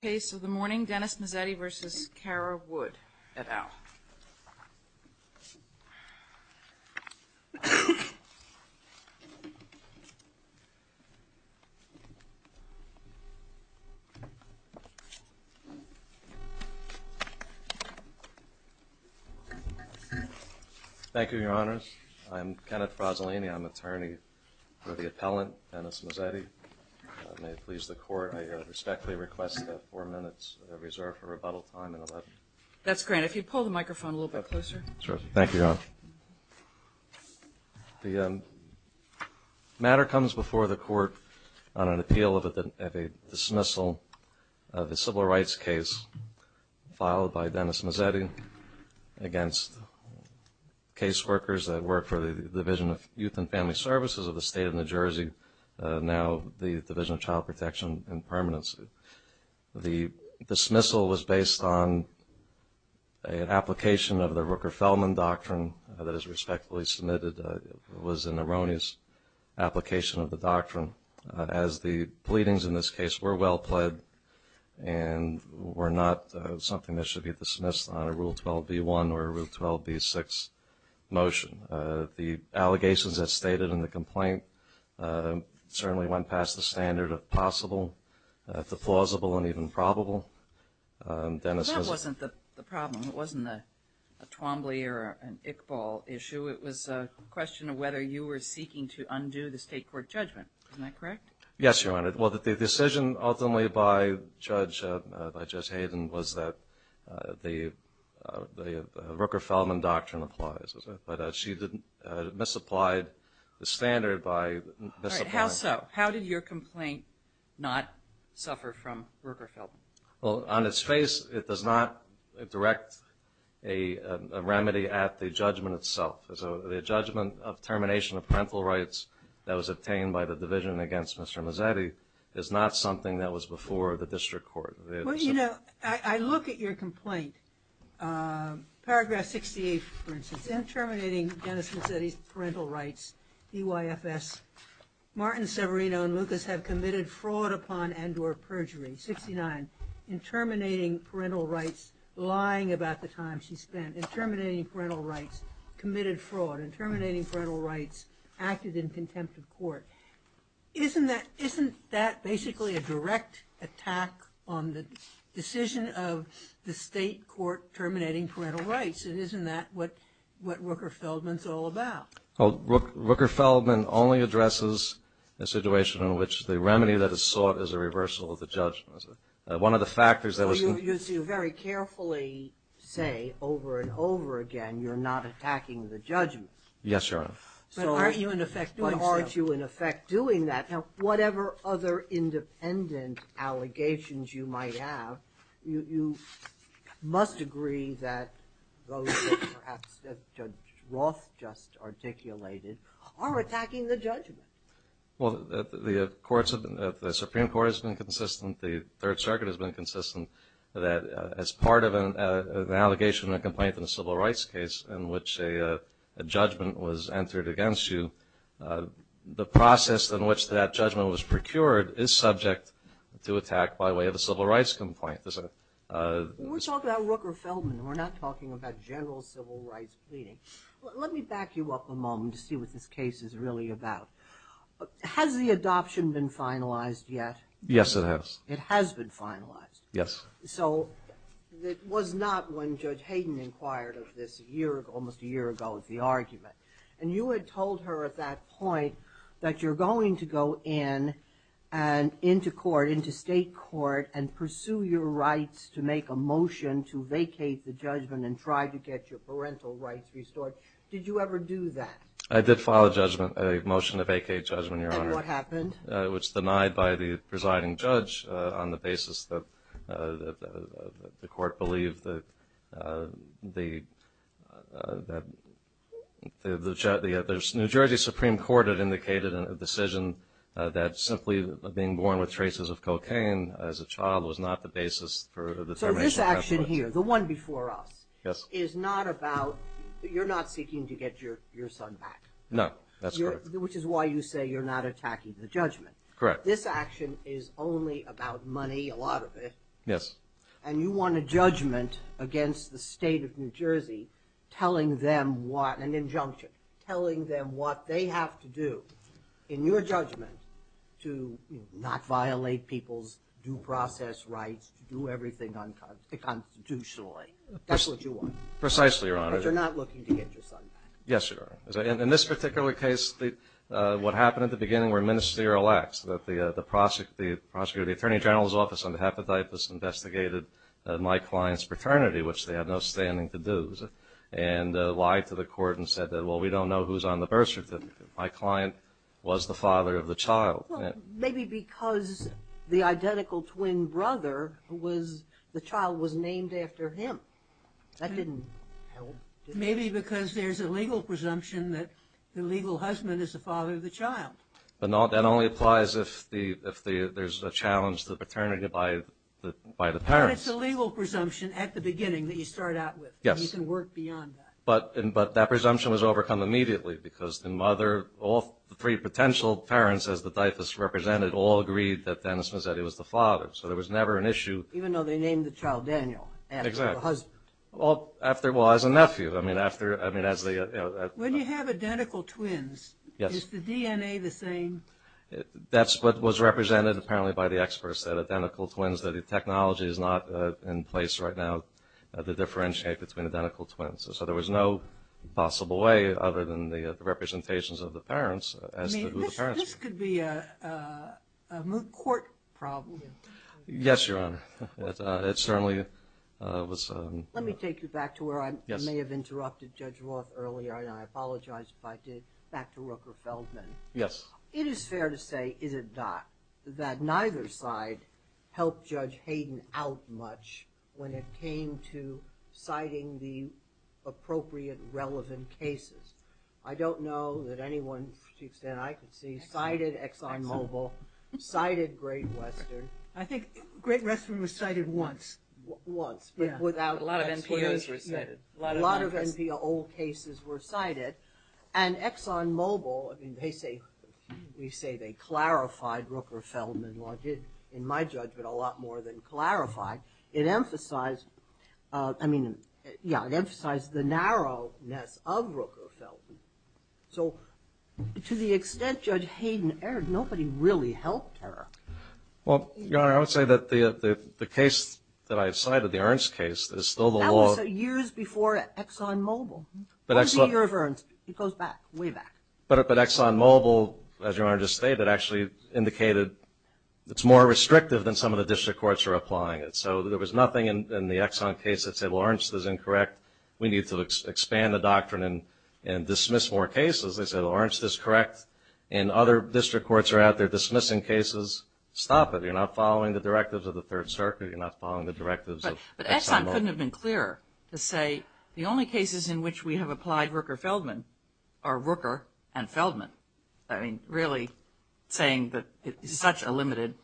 The case of the morning, Dennis Mazzetti v. Kara Wood et al. Thank you, Your Honors. I'm Kenneth Frazzolini. I'm attorney for the appellant, Dennis Mazzetti. May it please the Court, I respectfully request that four minutes reserve for rebuttal time in a letter. That's great. If you'd pull the microphone a little bit closer. Thank you, Your Honor. The matter comes before the Court on an appeal of a dismissal of a civil rights case filed by Dennis Mazzetti against case workers that work for the Division of Youth and Family Services of the State of New Jersey, now the Division of Child Protection and Permanency. The dismissal was based on an application of the Rooker-Feldman Doctrine that is respectfully submitted. It was an erroneous application of the doctrine, as the pleadings in this case were well pled and were not something that should be dismissed on a Rule 12b-1 or a Rule 12b-6 motion. The allegations as stated in the complaint certainly went past the standard of possible to plausible and even probable. That wasn't the problem. It wasn't a Twombly or an Iqbal issue. It was a question of whether you were seeking to undo the State Court judgment. Isn't that correct? Yes, Your Honor. Well, the decision ultimately by Judge Hayden was that the Rooker-Feldman Doctrine applies, but she misapplied the standard by misapplying... How so? How did your complaint not suffer from Rooker-Feldman? Well, on its face, it does not direct a remedy at the judgment itself. The judgment of termination of parental rights that was obtained by the division against Mr. Mazzetti is not something that was before the District Court. Well, you know, I look at your complaint. Paragraph 68, for instance, in terminating Dennis Mazzetti's parental rights, D-Y-F-S, Martin, Severino, and Lucas have committed fraud upon and or perjury. 69, in terminating parental rights, lying about the time she terminating parental rights, committed fraud, and terminating parental rights, acted in contempt of court. Isn't that basically a direct attack on the decision of the State Court terminating parental rights? And isn't that what Rooker-Feldman's all about? Well, Rooker-Feldman only addresses a situation in which the remedy that is sought is a reversal of the judgment. One of the factors that was... Well, you very carefully say over and over again you're not attacking the judgment. Yes, Your Honor. But aren't you, in effect, doing so? But aren't you, in effect, doing that? Now, whatever other independent allegations you might have, you must agree that those that perhaps Judge Roth just articulated are attacking the judgment. Well, the Supreme Court has been consistent, the Third Circuit has been consistent that as part of an allegation or complaint in a civil rights case in which a judgment was entered against you, the process in which that judgment was procured is subject to attack by way of a civil rights complaint. We're talking about Rooker-Feldman. We're not talking about general civil rights pleading. Let me back you up a moment to see what this case is really about. Has the adoption been finalized yet? Yes, it has. It has been finalized? Yes. So it was not when Judge Hayden inquired of this a year ago, almost a year ago, the argument. And you had told her at that point that you're going to go in and into court, into state court, and pursue your rights to make a motion to vacate the judgment and try to get your rights restored. Did you ever do that? I did file a judgment, a motion to vacate judgment, Your Honor. And what happened? It was denied by the presiding judge on the basis that the court believed that the New Jersey Supreme Court had indicated in a decision that simply being born with traces of cocaine as a child was not the basis for the termination of that judgment. The motion here, the one before us, is not about – you're not seeking to get your son back. No, that's correct. Which is why you say you're not attacking the judgment. Correct. This action is only about money, a lot of it. Yes. And you want a judgment against the state of New Jersey telling them what – an injunction – telling them what they have to do in your judgment to not violate people's due process rights to do everything unconstitutionally. That's what you want. Precisely, Your Honor. But you're not looking to get your son back. Yes, Your Honor. In this particular case, what happened at the beginning were ministerial acts, that the prosecutor, the attorney general's office on behalf of the IPAS investigated my client's paternity, which they have no standing to do, and lied to the court and said that well, we don't know who's on the birth certificate. My client was the father of the child. Well, maybe because the identical twin brother was – the child was named after him. That didn't help. Maybe because there's a legal presumption that the legal husband is the father of the child. But that only applies if there's a challenge to the paternity by the parents. But it's a legal presumption at the beginning that you start out with. Yes. And you can work beyond that. But that presumption was overcome immediately because the mother – all three potential parents, as the diaphus represented, all agreed that Dennis Mazzetti was the father. So there was never an issue. Even though they named the child Daniel. Exactly. After the husband. Well, as a nephew. I mean, after – I mean, as the – When you have identical twins, is the DNA the same? That's what was represented apparently by the experts, that identical twins, that the technology is not in place right now to differentiate between identical twins. So there was no possible way other than the representations of the parents as to who the parents were. This could be a moot court problem. Yes, Your Honor. It certainly was. Let me take you back to where I may have interrupted Judge Roth earlier, and I apologize if I did, back to Rooker-Feldman. Yes. It is fair to say, is it not, that neither side helped Judge Hayden out much when it came to citing the appropriate relevant cases. I don't know that anyone to the extent I could see cited Exxon Mobil, cited Great Western. I think Great Western was cited once. Once, but without – A lot of NPOs were cited. A lot of NPO cases were cited. And Exxon Mobil, I mean, they say – we say they clarified Rooker-Feldman. Well, I did, in my judgment, a lot more than clarify. It emphasized – I nobody really helped her. Well, Your Honor, I would say that the case that I cited, the Ernst case, is still the law. That was years before Exxon Mobil. But Exxon – Or the year of Ernst. It goes back, way back. But Exxon Mobil, as Your Honor just stated, actually indicated it's more restrictive than some of the district courts are applying it. So there was nothing in the Exxon case that said, well, Ernst is incorrect. We need to expand the doctrine and dismiss more cases. They said, well, Ernst is correct. And other district courts are out there dismissing cases. Stop it. You're not following the directives of the Third Circuit. You're not following the directives of Exxon Mobil. But Exxon couldn't have been clearer to say the only cases in which we have applied Rooker-Feldman are Rooker and Feldman. I mean, really saying that it's such a limited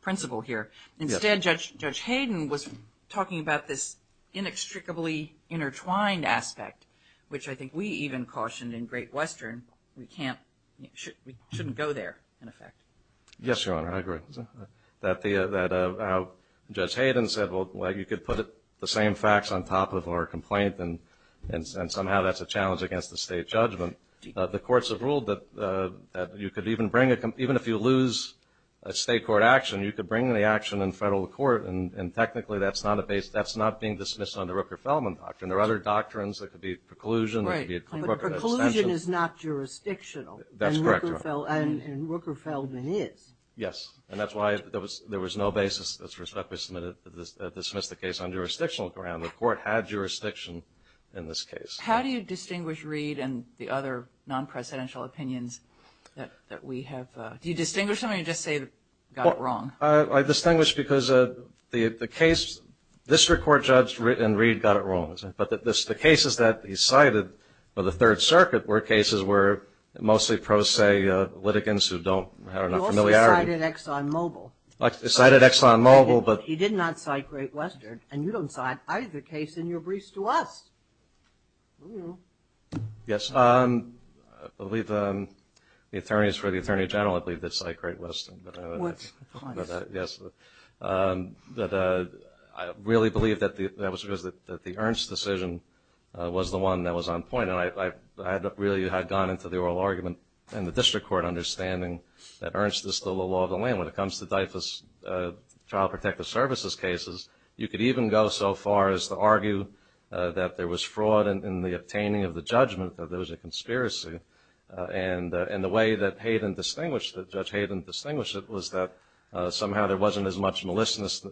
principle here. Instead, Judge Hayden was talking about this inextricably intertwined aspect, which I think we even cautioned in Great Western we can't – we shouldn't go there, in effect. Yes, Your Honor. I agree. That the – how Judge Hayden said, well, you could put the same facts on top of our complaint and somehow that's a challenge against the state judgment. The courts have ruled that you could even bring – even if you lose a state court action, you could bring the action in federal court and technically that's not a – that's not being dismissed under Rooker-Feldman doctrine. There are other doctrines. There could be preclusion. Right. There could be appropriate extension. But preclusion is not jurisdictional. That's correct, Your Honor. And Rooker-Feldman is. Yes. And that's why there was no basis that was respectfully submitted – dismissed the case on jurisdictional ground. The court had jurisdiction in this case. How do you distinguish Reed and the other non-presidential opinions that we have – do you distinguish them or do you just say got it wrong? Well, I distinguish because the case – this Court judge and Reed got it wrong. But the case – the cases that he cited for the Third Circuit were cases where mostly pro, say, litigants who don't have enough familiarity. He also cited Exxon Mobil. He cited Exxon Mobil, but – He did not cite Great Western and you don't cite either case in your briefs to us. Yes. I believe the attorneys for the Attorney General, I believe, did cite Great Western. What? Yes. But I really believe that the – that was because the Ernst decision was the one that was on point. And I really had gone into the oral argument in the district court understanding that Ernst is still the law of the land. When it comes to DIFAS, Child Protective Services cases, you could even go so far as to argue that there was fraud in the obtaining of the judgment that there was a conspiracy. And the way that Hayden distinguished – that Judge Hayden distinguished it was that somehow there wasn't as much maliciousness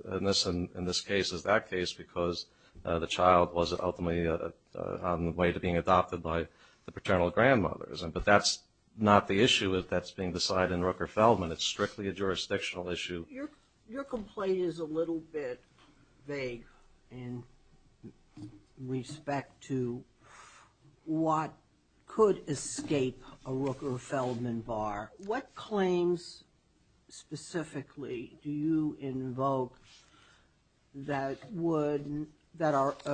in this case as that case because the child wasn't ultimately on the way to being adopted by the paternal grandmother. But that's not the issue that's being decided in Rooker-Feldman. It's strictly a jurisdictional issue. Your complaint is a little bit vague in respect to what could escape a Rooker-Feldman bar. What claims specifically do you invoke that would – that are –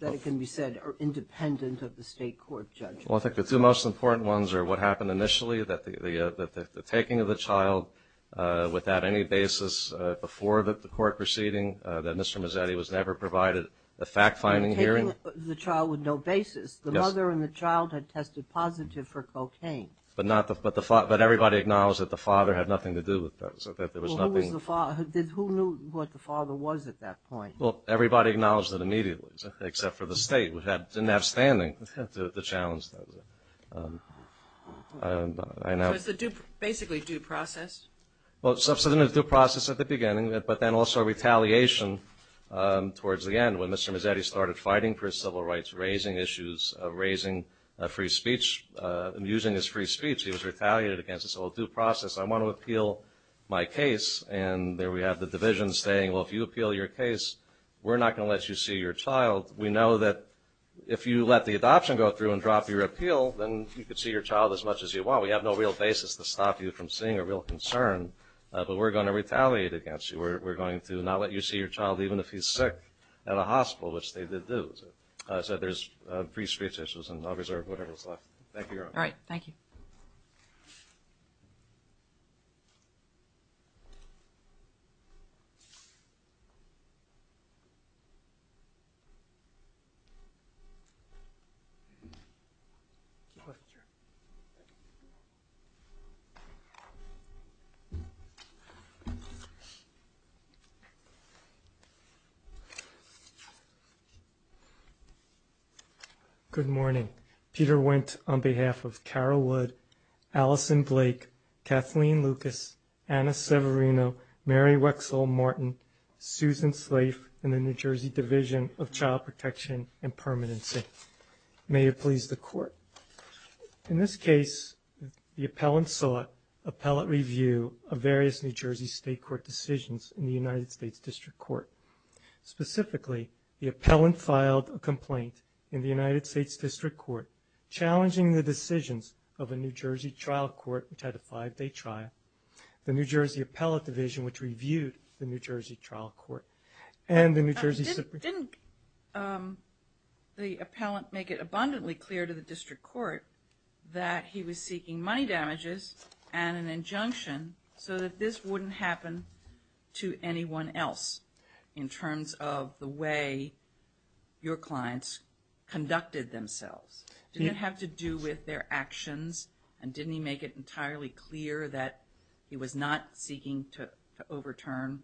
that can be said are independent of the state court judgment? Well, I think the two most important ones are what happened initially, that the taking of the child without any basis before the court proceeding, that Mr. Mazzetti was never provided a fact-finding hearing. Taking the child with no basis. Yes. The mother and the child had tested positive for cocaine. But not the – but everybody acknowledged that the father had nothing to do with that, so that there was nothing – Well, who was the father? Who knew what the father was at that point? Well, everybody acknowledged that immediately, except for the state, which didn't have standing to challenge that. I know – So it's the basically due process? Well, substantive due process at the beginning, but then also retaliation towards the end when Mr. Mazzetti started fighting for his civil rights, raising issues, raising free speech, using his free speech. He was retaliated against, so a due process. I want to appeal my case, and there we have the division saying, well, if you appeal your case, we're not going to let you see your child. We know that if you let the adoption go through and drop your appeal, then you could see your child as much as you want. We have no real basis to stop you from seeing a real concern, but we're going to retaliate against you. We're going to not let you see your child even if he's sick at a hospital, which they did do. So there's free speech issues, and I'll reserve whatever is left. Thank you, Your Honor. All right. Thank you. Thank you. Good morning. Peter Wendt, on behalf of Carol Wood, Alison Blake, Kathleen Lucas, Anna Severino, Mary Wexel Martin, Susan Slafe, and the New Jersey Division of Child Protection and Permanency. May it please the Court. In this case, the appellant saw appellate review of various New Jersey state court decisions in the United States District Court. Specifically, the appellant filed a complaint in the United States District Court challenging the decisions of a New Jersey trial court which had a five-day trial. The New Jersey Appellate Division, which reviewed the New Jersey trial court, and the New Jersey Supreme Court. Didn't the appellant make it abundantly clear to the District Court that he was seeking money damages and an injunction so that this wouldn't happen to anyone else in terms of the way your clients conducted themselves? Did it have to do with their actions? And didn't he make it entirely clear that he was not seeking to overturn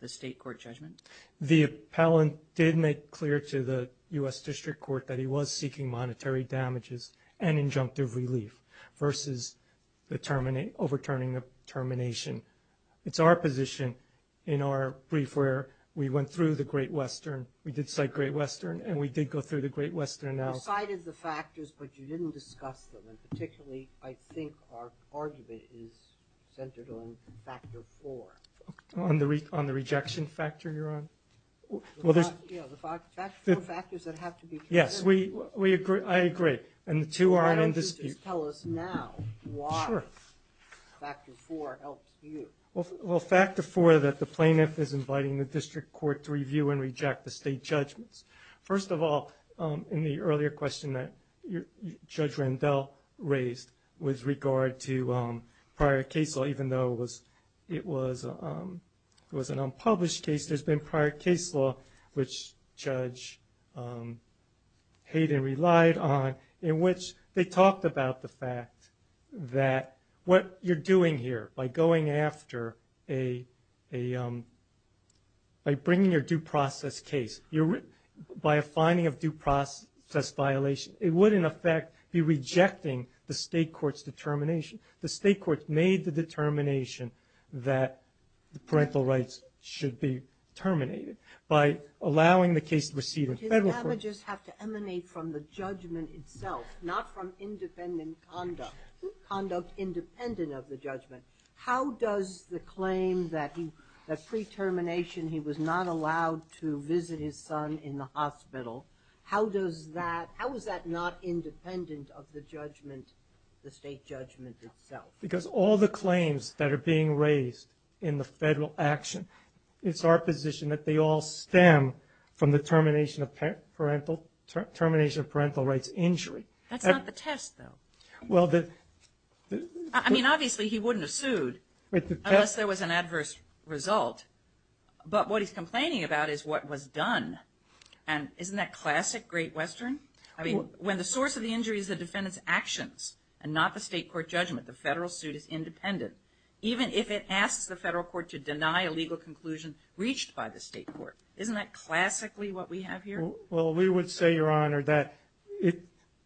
the state court judgment? The appellant did make clear to the U.S. District Court that he was seeking monetary damages and injunctive relief versus overturning the termination. It's our position in our brief where we went through the Great Western. We did cite Great Western, and we did go through the Great Western analysis. You cited the factors, but you didn't discuss them. And particularly, I think our argument is centered on factor four. On the rejection factor you're on? Yeah, the four factors that have to be considered. Yes, I agree. And the two are in dispute. Why don't you just tell us now why factor four helps you? Well, factor four that the plaintiff is inviting the district court to review and reject the state judgments. First of all, in the earlier question that Judge Randell raised with regard to prior case law, even though it was an unpublished case, there's been prior case law which Judge Hayden relied on in which they talked about the fact that what you're doing here by bringing your due process case, by a finding of due process violation, it would in effect be rejecting the state court's determination. The state court made the determination that the parental rights should be terminated by allowing the case to proceed in federal court. But his damages have to emanate from the judgment itself, not from independent conduct, conduct independent of the judgment. How does the claim that pre-termination he was not allowed to visit his son in the hospital, how is that not independent of the judgment, the state judgment itself? Because all the claims that are being raised in the federal action, it's our position that they all stem from the termination of parental rights injury. That's not the test, though. I mean, obviously, he wouldn't have sued unless there was an adverse result. But what he's complaining about is what was done. And isn't that classic Great Western? I mean, when the source of the injury is the defendant's actions and not the state court judgment, the federal suit is independent, even if it asks the federal court to deny a legal conclusion reached by the state court. Isn't that classically what we have here? Well, we would say, Your Honor, that it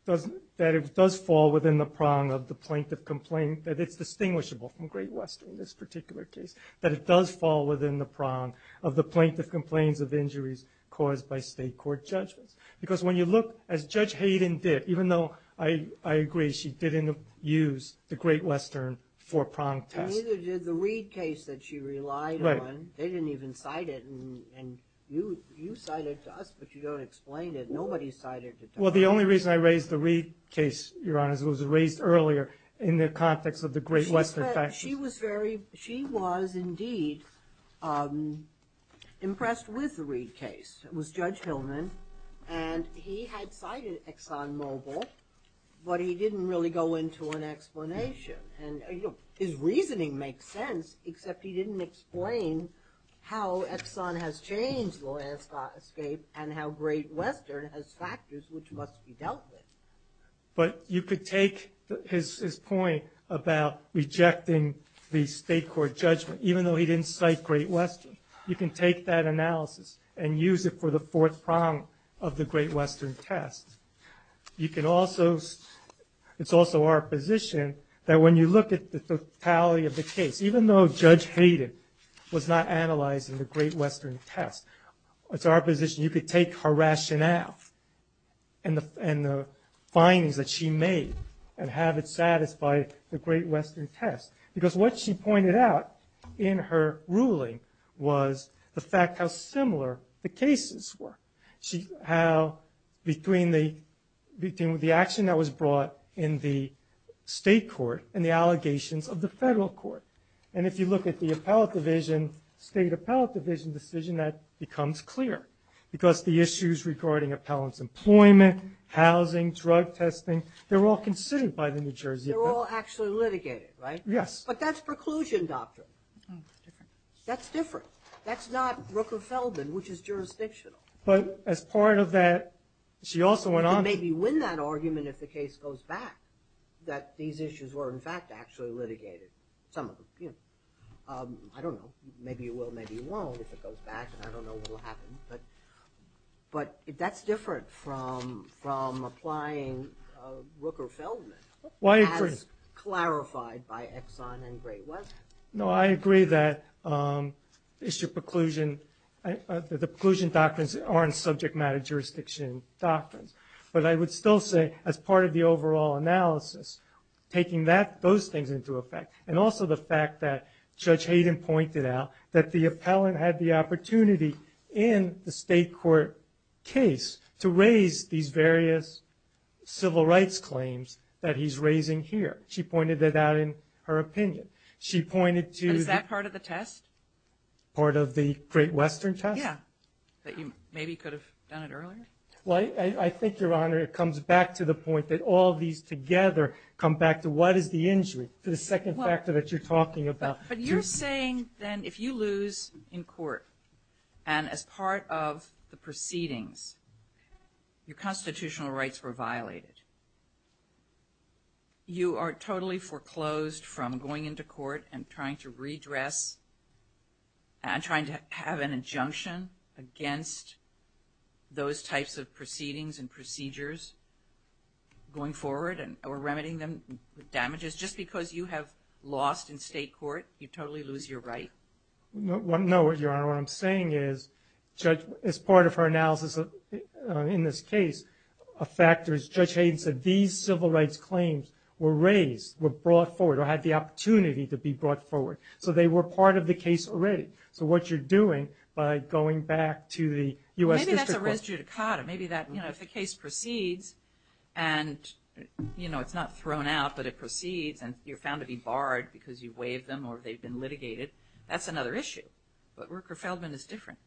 does fall within the prong of the plaintiff complaint, that it's distinguishable from Great Western, this particular case, that it does fall within the prong of the plaintiff complaints of injuries caused by state court judgments. Because when you look, as Judge Hayden did, even though I agree she didn't use the Great Western for a prong test. And neither did the Reed case that she relied on. They didn't even cite it. And you cite it to us, but you don't explain it. Nobody cited it to us. Well, the only reason I raised the Reed case, Your Honor, is it was raised earlier in the context of the Great Western faction. She was, indeed, impressed with the Reed case. It was Judge Hillman. And he had cited Exxon Mobil, but he didn't really go into an explanation. And his reasoning makes sense, except he didn't explain how Exxon has changed law escape and how Great Western has factors which must be dealt with. But you could take his point about rejecting the state court judgment, even though he didn't cite Great Western. You can take that analysis and use it for the fourth prong of the Great Western test. You can also, it's also our position that when you look at the totality of the case, even though Judge Hayden was not analyzing the Great Western test, it's our position you could take her rationale and the findings that she made and have it satisfy the Great Western test. Because what she pointed out in her ruling was the fact how similar the cases were. She, how, between the action that was brought in the state court and the allegations of the federal court. And if you look at the appellate division, state appellate division decision, that becomes clear. Because the issues regarding appellant's employment, housing, drug testing, they were all considered by the New Jersey appellate. They were all actually litigated, right? Yes. But that's preclusion doctrine. That's different. That's not Rooker-Feldman, which is jurisdictional. But as part of that, she also went on to... You could maybe win that argument if the case goes back, that these issues were in fact actually litigated, some of them. I don't know. Maybe you will, maybe you won't. If it goes back, I don't know what will happen. But that's different from applying Rooker-Feldman... I agree. ...as clarified by Exxon and Great Western. No, I agree that the preclusion doctrines aren't subject matter jurisdiction doctrines. But I would still say, as part of the overall analysis, taking those things into effect, and also the fact that Judge Hayden pointed out that the appellant had the opportunity in the state court case to raise these various civil rights claims that he's raising here. She pointed that out in her opinion. She pointed to... And is that part of the test? Part of the Great Western test? Yeah. That you maybe could have done it earlier? Well, I think, Your Honor, it comes back to the point that all these together come back to what is the injury, to the second factor that you're talking about. But you're saying, then, if you lose in court, and as part of the proceedings, your constitutional rights were violated, you are totally foreclosed from going into court and trying to redress and trying to have an injunction against those types of proceedings and procedures going forward or remedying them with damages just because you have lost in state court, you totally lose your right? No, Your Honor. What I'm saying is, Judge, as part of her analysis in this case, a factor is, Judge Hayden said, these civil rights claims were raised, were brought forward, or had the opportunity to be brought forward. So they were part of the case already. So what you're doing by going back to the U.S. District Court... Maybe that's a res judicata. Maybe that, you know, if the case proceeds, and, you know, it's not thrown out, but it proceeds, and you're found to be barred because you waived them or they've been litigated, that's another issue. But Rooker-Feldman is different.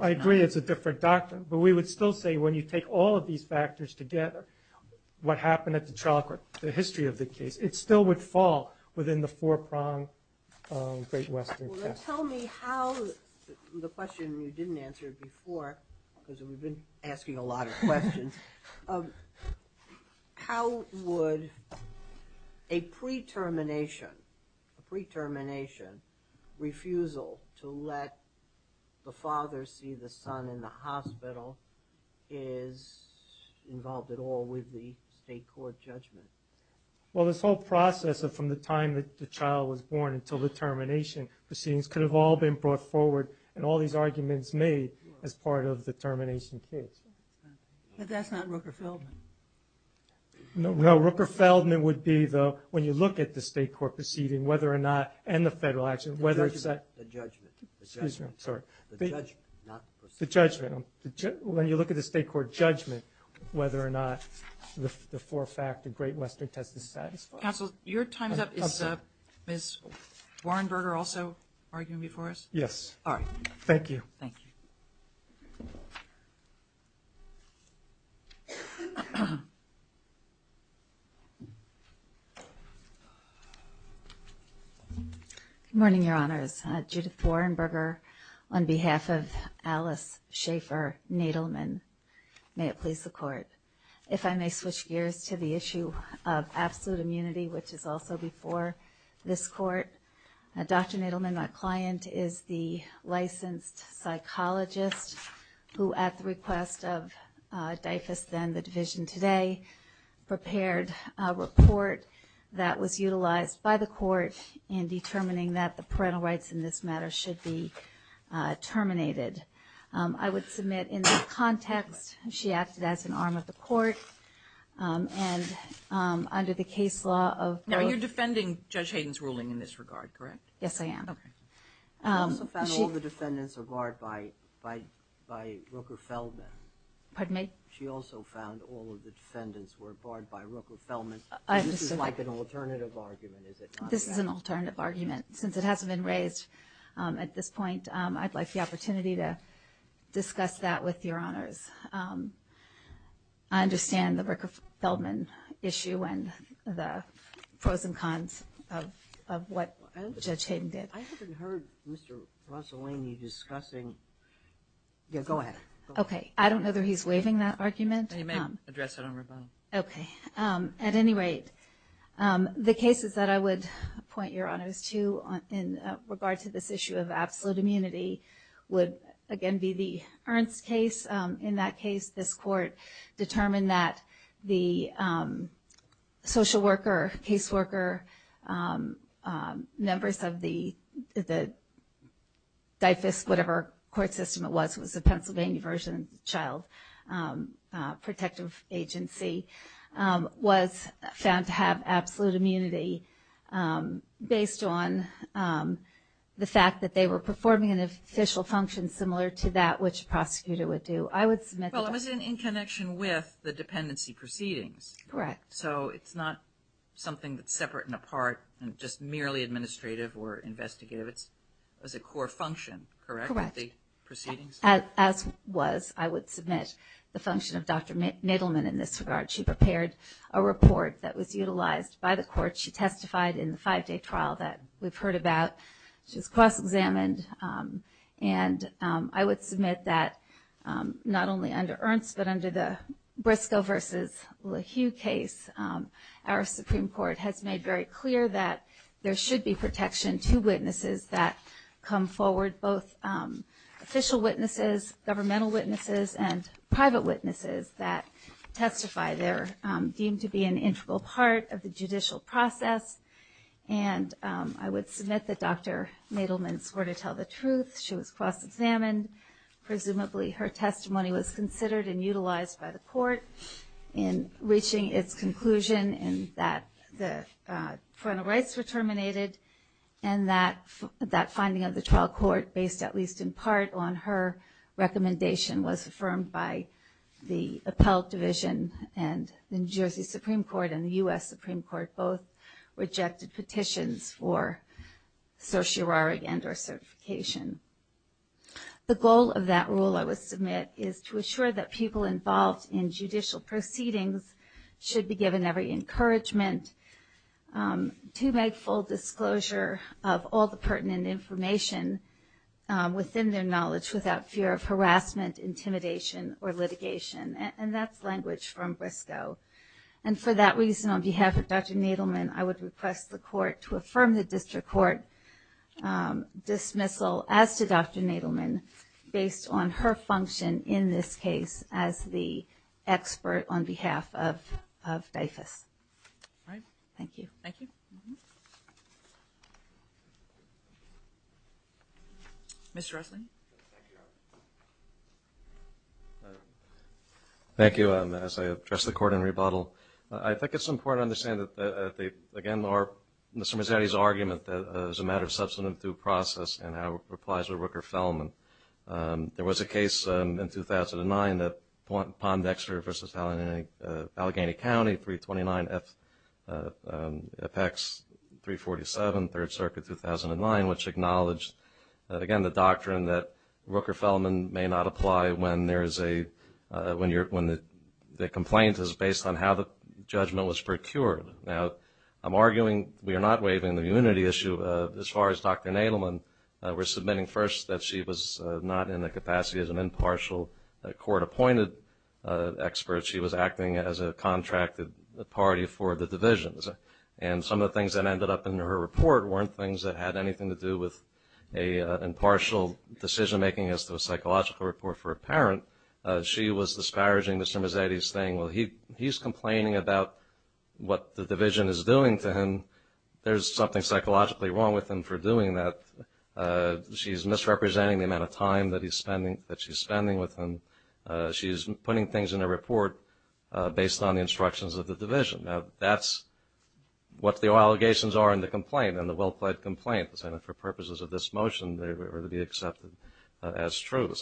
I agree it's a different doctrine. But we would still say when you take all of these factors together, what happened at the trial court, the history of the case, it still would fall within the four-prong Great Western case. Well, then tell me how the question you didn't answer before, because we've been asking a lot of questions, how would a pre-termination refusal to let the father see the son in the hospital is involved at all with the state court judgment? Well, this whole process from the time that the child was born until the termination proceedings could have all been brought forward, and all these arguments made as part of the termination case. But that's not Rooker-Feldman. No, Rooker-Feldman would be, though, when you look at the state court proceeding, whether or not, and the federal action, whether it's that... The judgment. Excuse me, I'm sorry. The judgment, not proceedings. The judgment. When you look at the state court judgment, whether or not the four-factor Great Western test is satisfied. Counsel, your time's up. Is Ms. Warrenberger also arguing before us? Yes. All right. Thank you. Thank you. Good morning, Your Honors. Judith Warrenberger on behalf of Alice Schaefer Nadelman. May it please the Court. If I may switch gears to the issue of absolute immunity, which is also before this Court. Dr. Nadelman, my client, is the licensed psychologist who, at the request of DIFAS, then the division today, prepared a report that was utilized by the Court in determining that the parental rights in this matter should be terminated. I would submit in this context she acted as an arm of the Court, and under the case law of... Now, you're defending Judge Hayden's ruling in this regard, correct? Yes, I am. Okay. She also found all the defendants were barred by Rooker-Feldman. Pardon me? She also found all of the defendants were barred by Rooker-Feldman. This is like an alternative argument, is it not? This is an alternative argument. Since it hasn't been raised at this point, I'd like the opportunity to discuss that with Your Honors. I understand the Rooker-Feldman issue and the pros and cons of what Judge Hayden did. I haven't heard Mr. Rossellini discussing... Go ahead. Okay. I don't know that he's waiving that argument. You may address it on rebuttal. Okay. At any rate, the cases that I would point Your Honors to in regard to this case, in that case this court determined that the social worker, case worker, members of the whatever court system it was, it was a Pennsylvania version of the Child Protective Agency, was found to have absolute immunity based on the fact that they were Well, it was in connection with the dependency proceedings. Correct. So it's not something that's separate and apart and just merely administrative or investigative. It was a core function, correct, of the proceedings? Correct. As was, I would submit, the function of Dr. Nittleman in this regard. She prepared a report that was utilized by the court. She testified in the five-day trial that we've heard about. She was cross-examined. And I would submit that not only under Ernst, but under the Briscoe versus LaHue case, our Supreme Court has made very clear that there should be protection to witnesses that come forward, both official witnesses, governmental witnesses, and private witnesses that testify. They're deemed to be an integral part of the judicial process. And I would submit that Dr. Nittleman swore to tell the truth. She was cross-examined. Presumably her testimony was considered and utilized by the court in reaching its conclusion in that the parental rights were terminated and that that finding of the trial court, based at least in part on her recommendation, was affirmed by the Appellate Division and the New Jersey Supreme Court and the U.S. Supreme Court both rejected petitions for certiorari and or certification. The goal of that rule, I would submit, is to assure that people involved in judicial proceedings should be given every encouragement to make full disclosure of all the pertinent information within their knowledge without fear of harassment, intimidation, or litigation. And that's language from Briscoe. And for that reason, on behalf of Dr. Nittleman, I would request the court to affirm the district court dismissal as to Dr. Nittleman based on her function in this case as the expert on behalf of Dyfus. All right. Thank you. Thank you. Mr. Russel? Thank you. Thank you. As I address the court in rebuttal, I think it's important to understand that, again, Mr. Mazzetti's argument that it's a matter of substantive due process and how it applies to Rooker-Fellman. There was a case in 2009 that Pondexter v. Allegheny County, 329 F.X. 347, which acknowledged, again, the doctrine that Rooker-Fellman may not apply when the complaint is based on how the judgment was procured. Now, I'm arguing we are not waiving the unity issue. As far as Dr. Nittleman, we're submitting first that she was not in the capacity as an impartial court-appointed expert. She was acting as a contracted party for the divisions. And some of the things that ended up in her report weren't things that had anything to do with an impartial decision-making as to a psychological report for a parent. She was disparaging Mr. Mazzetti's thing. Well, he's complaining about what the division is doing to him. There's something psychologically wrong with him for doing that. She's misrepresenting the amount of time that she's spending with him. She's putting things in a report based on the instructions of the division. Now, that's what the allegations are in the complaint, in the well-pled complaint. And for purposes of this motion, they were to be accepted as true.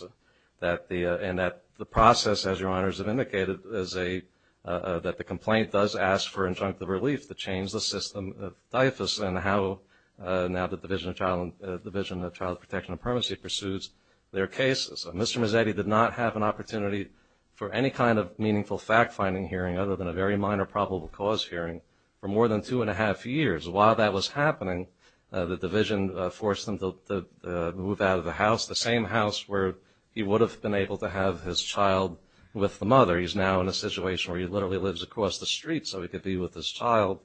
And the process, as your honors have indicated, is that the complaint does ask for injunctive relief to change the system of DIFAS and how now the Division of Child Protection and Permanency pursues their cases. Mr. Mazzetti did not have an opportunity for any kind of meaningful fact-finding hearing other than a very minor probable cause hearing for more than two and a half years. While that was happening, the division forced him to move out of the house, the same house where he would have been able to have his child with the mother. He's now in a situation where he literally lives across the street so he could be with his child.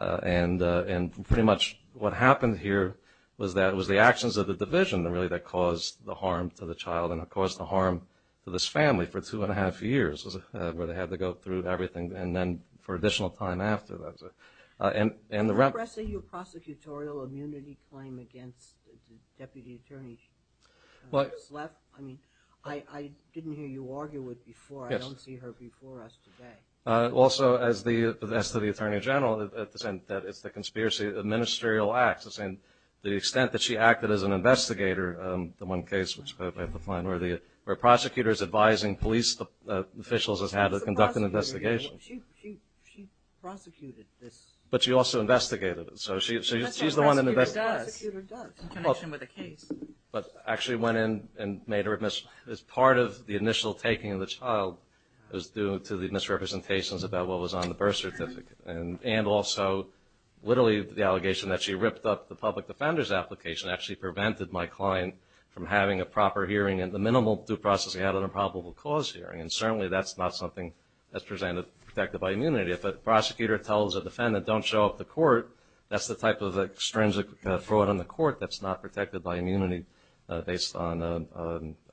And pretty much what happened here was that it was the actions of the division really that caused the harm to the child and caused the harm to this family for two and a half years where they had to go through everything and then for additional time after that. And the rep. Can I press a prosecutorial immunity claim against the Deputy Attorney? I mean, I didn't hear you argue it before. I don't see her before us today. Also, as to the Attorney General, it's the conspiracy of the ministerial acts. The extent that she acted as an investigator, the one case where prosecutors advising police officials has had to conduct an investigation. She prosecuted this. But she also investigated it. That's what a prosecutor does in connection with a case. But actually went in and made her admission. As part of the initial taking of the child, it was due to the misrepresentations about what was on the birth certificate and also literally the allegation that she ripped up the public defender's client from having a proper hearing and the minimal due process he had on a probable cause hearing. And certainly that's not something that's presented protected by immunity. If a prosecutor tells a defendant don't show up to court, that's the type of extrinsic fraud on the court that's not protected by immunity based on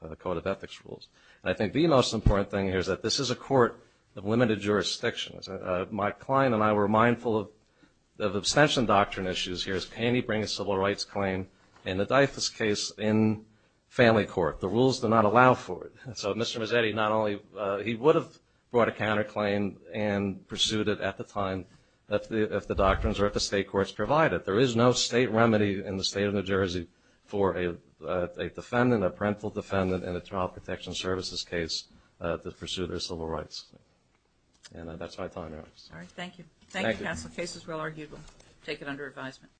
a code of ethics rules. And I think the most important thing here is that this is a court of limited jurisdiction. My client and I were mindful of abstention doctrine issues here. Can he bring a civil rights claim in the Dyfus case in family court? The rules do not allow for it. So Mr. Mazzetti, he would have brought a counterclaim and pursued it at the time if the doctrines or if the state courts provide it. There is no state remedy in the state of New Jersey for a defendant, a parental defendant in a child protection services case to pursue their civil rights. And that's my time. All right, thank you. Thank you, Counsel. The case is well argued. We'll take it under advisement.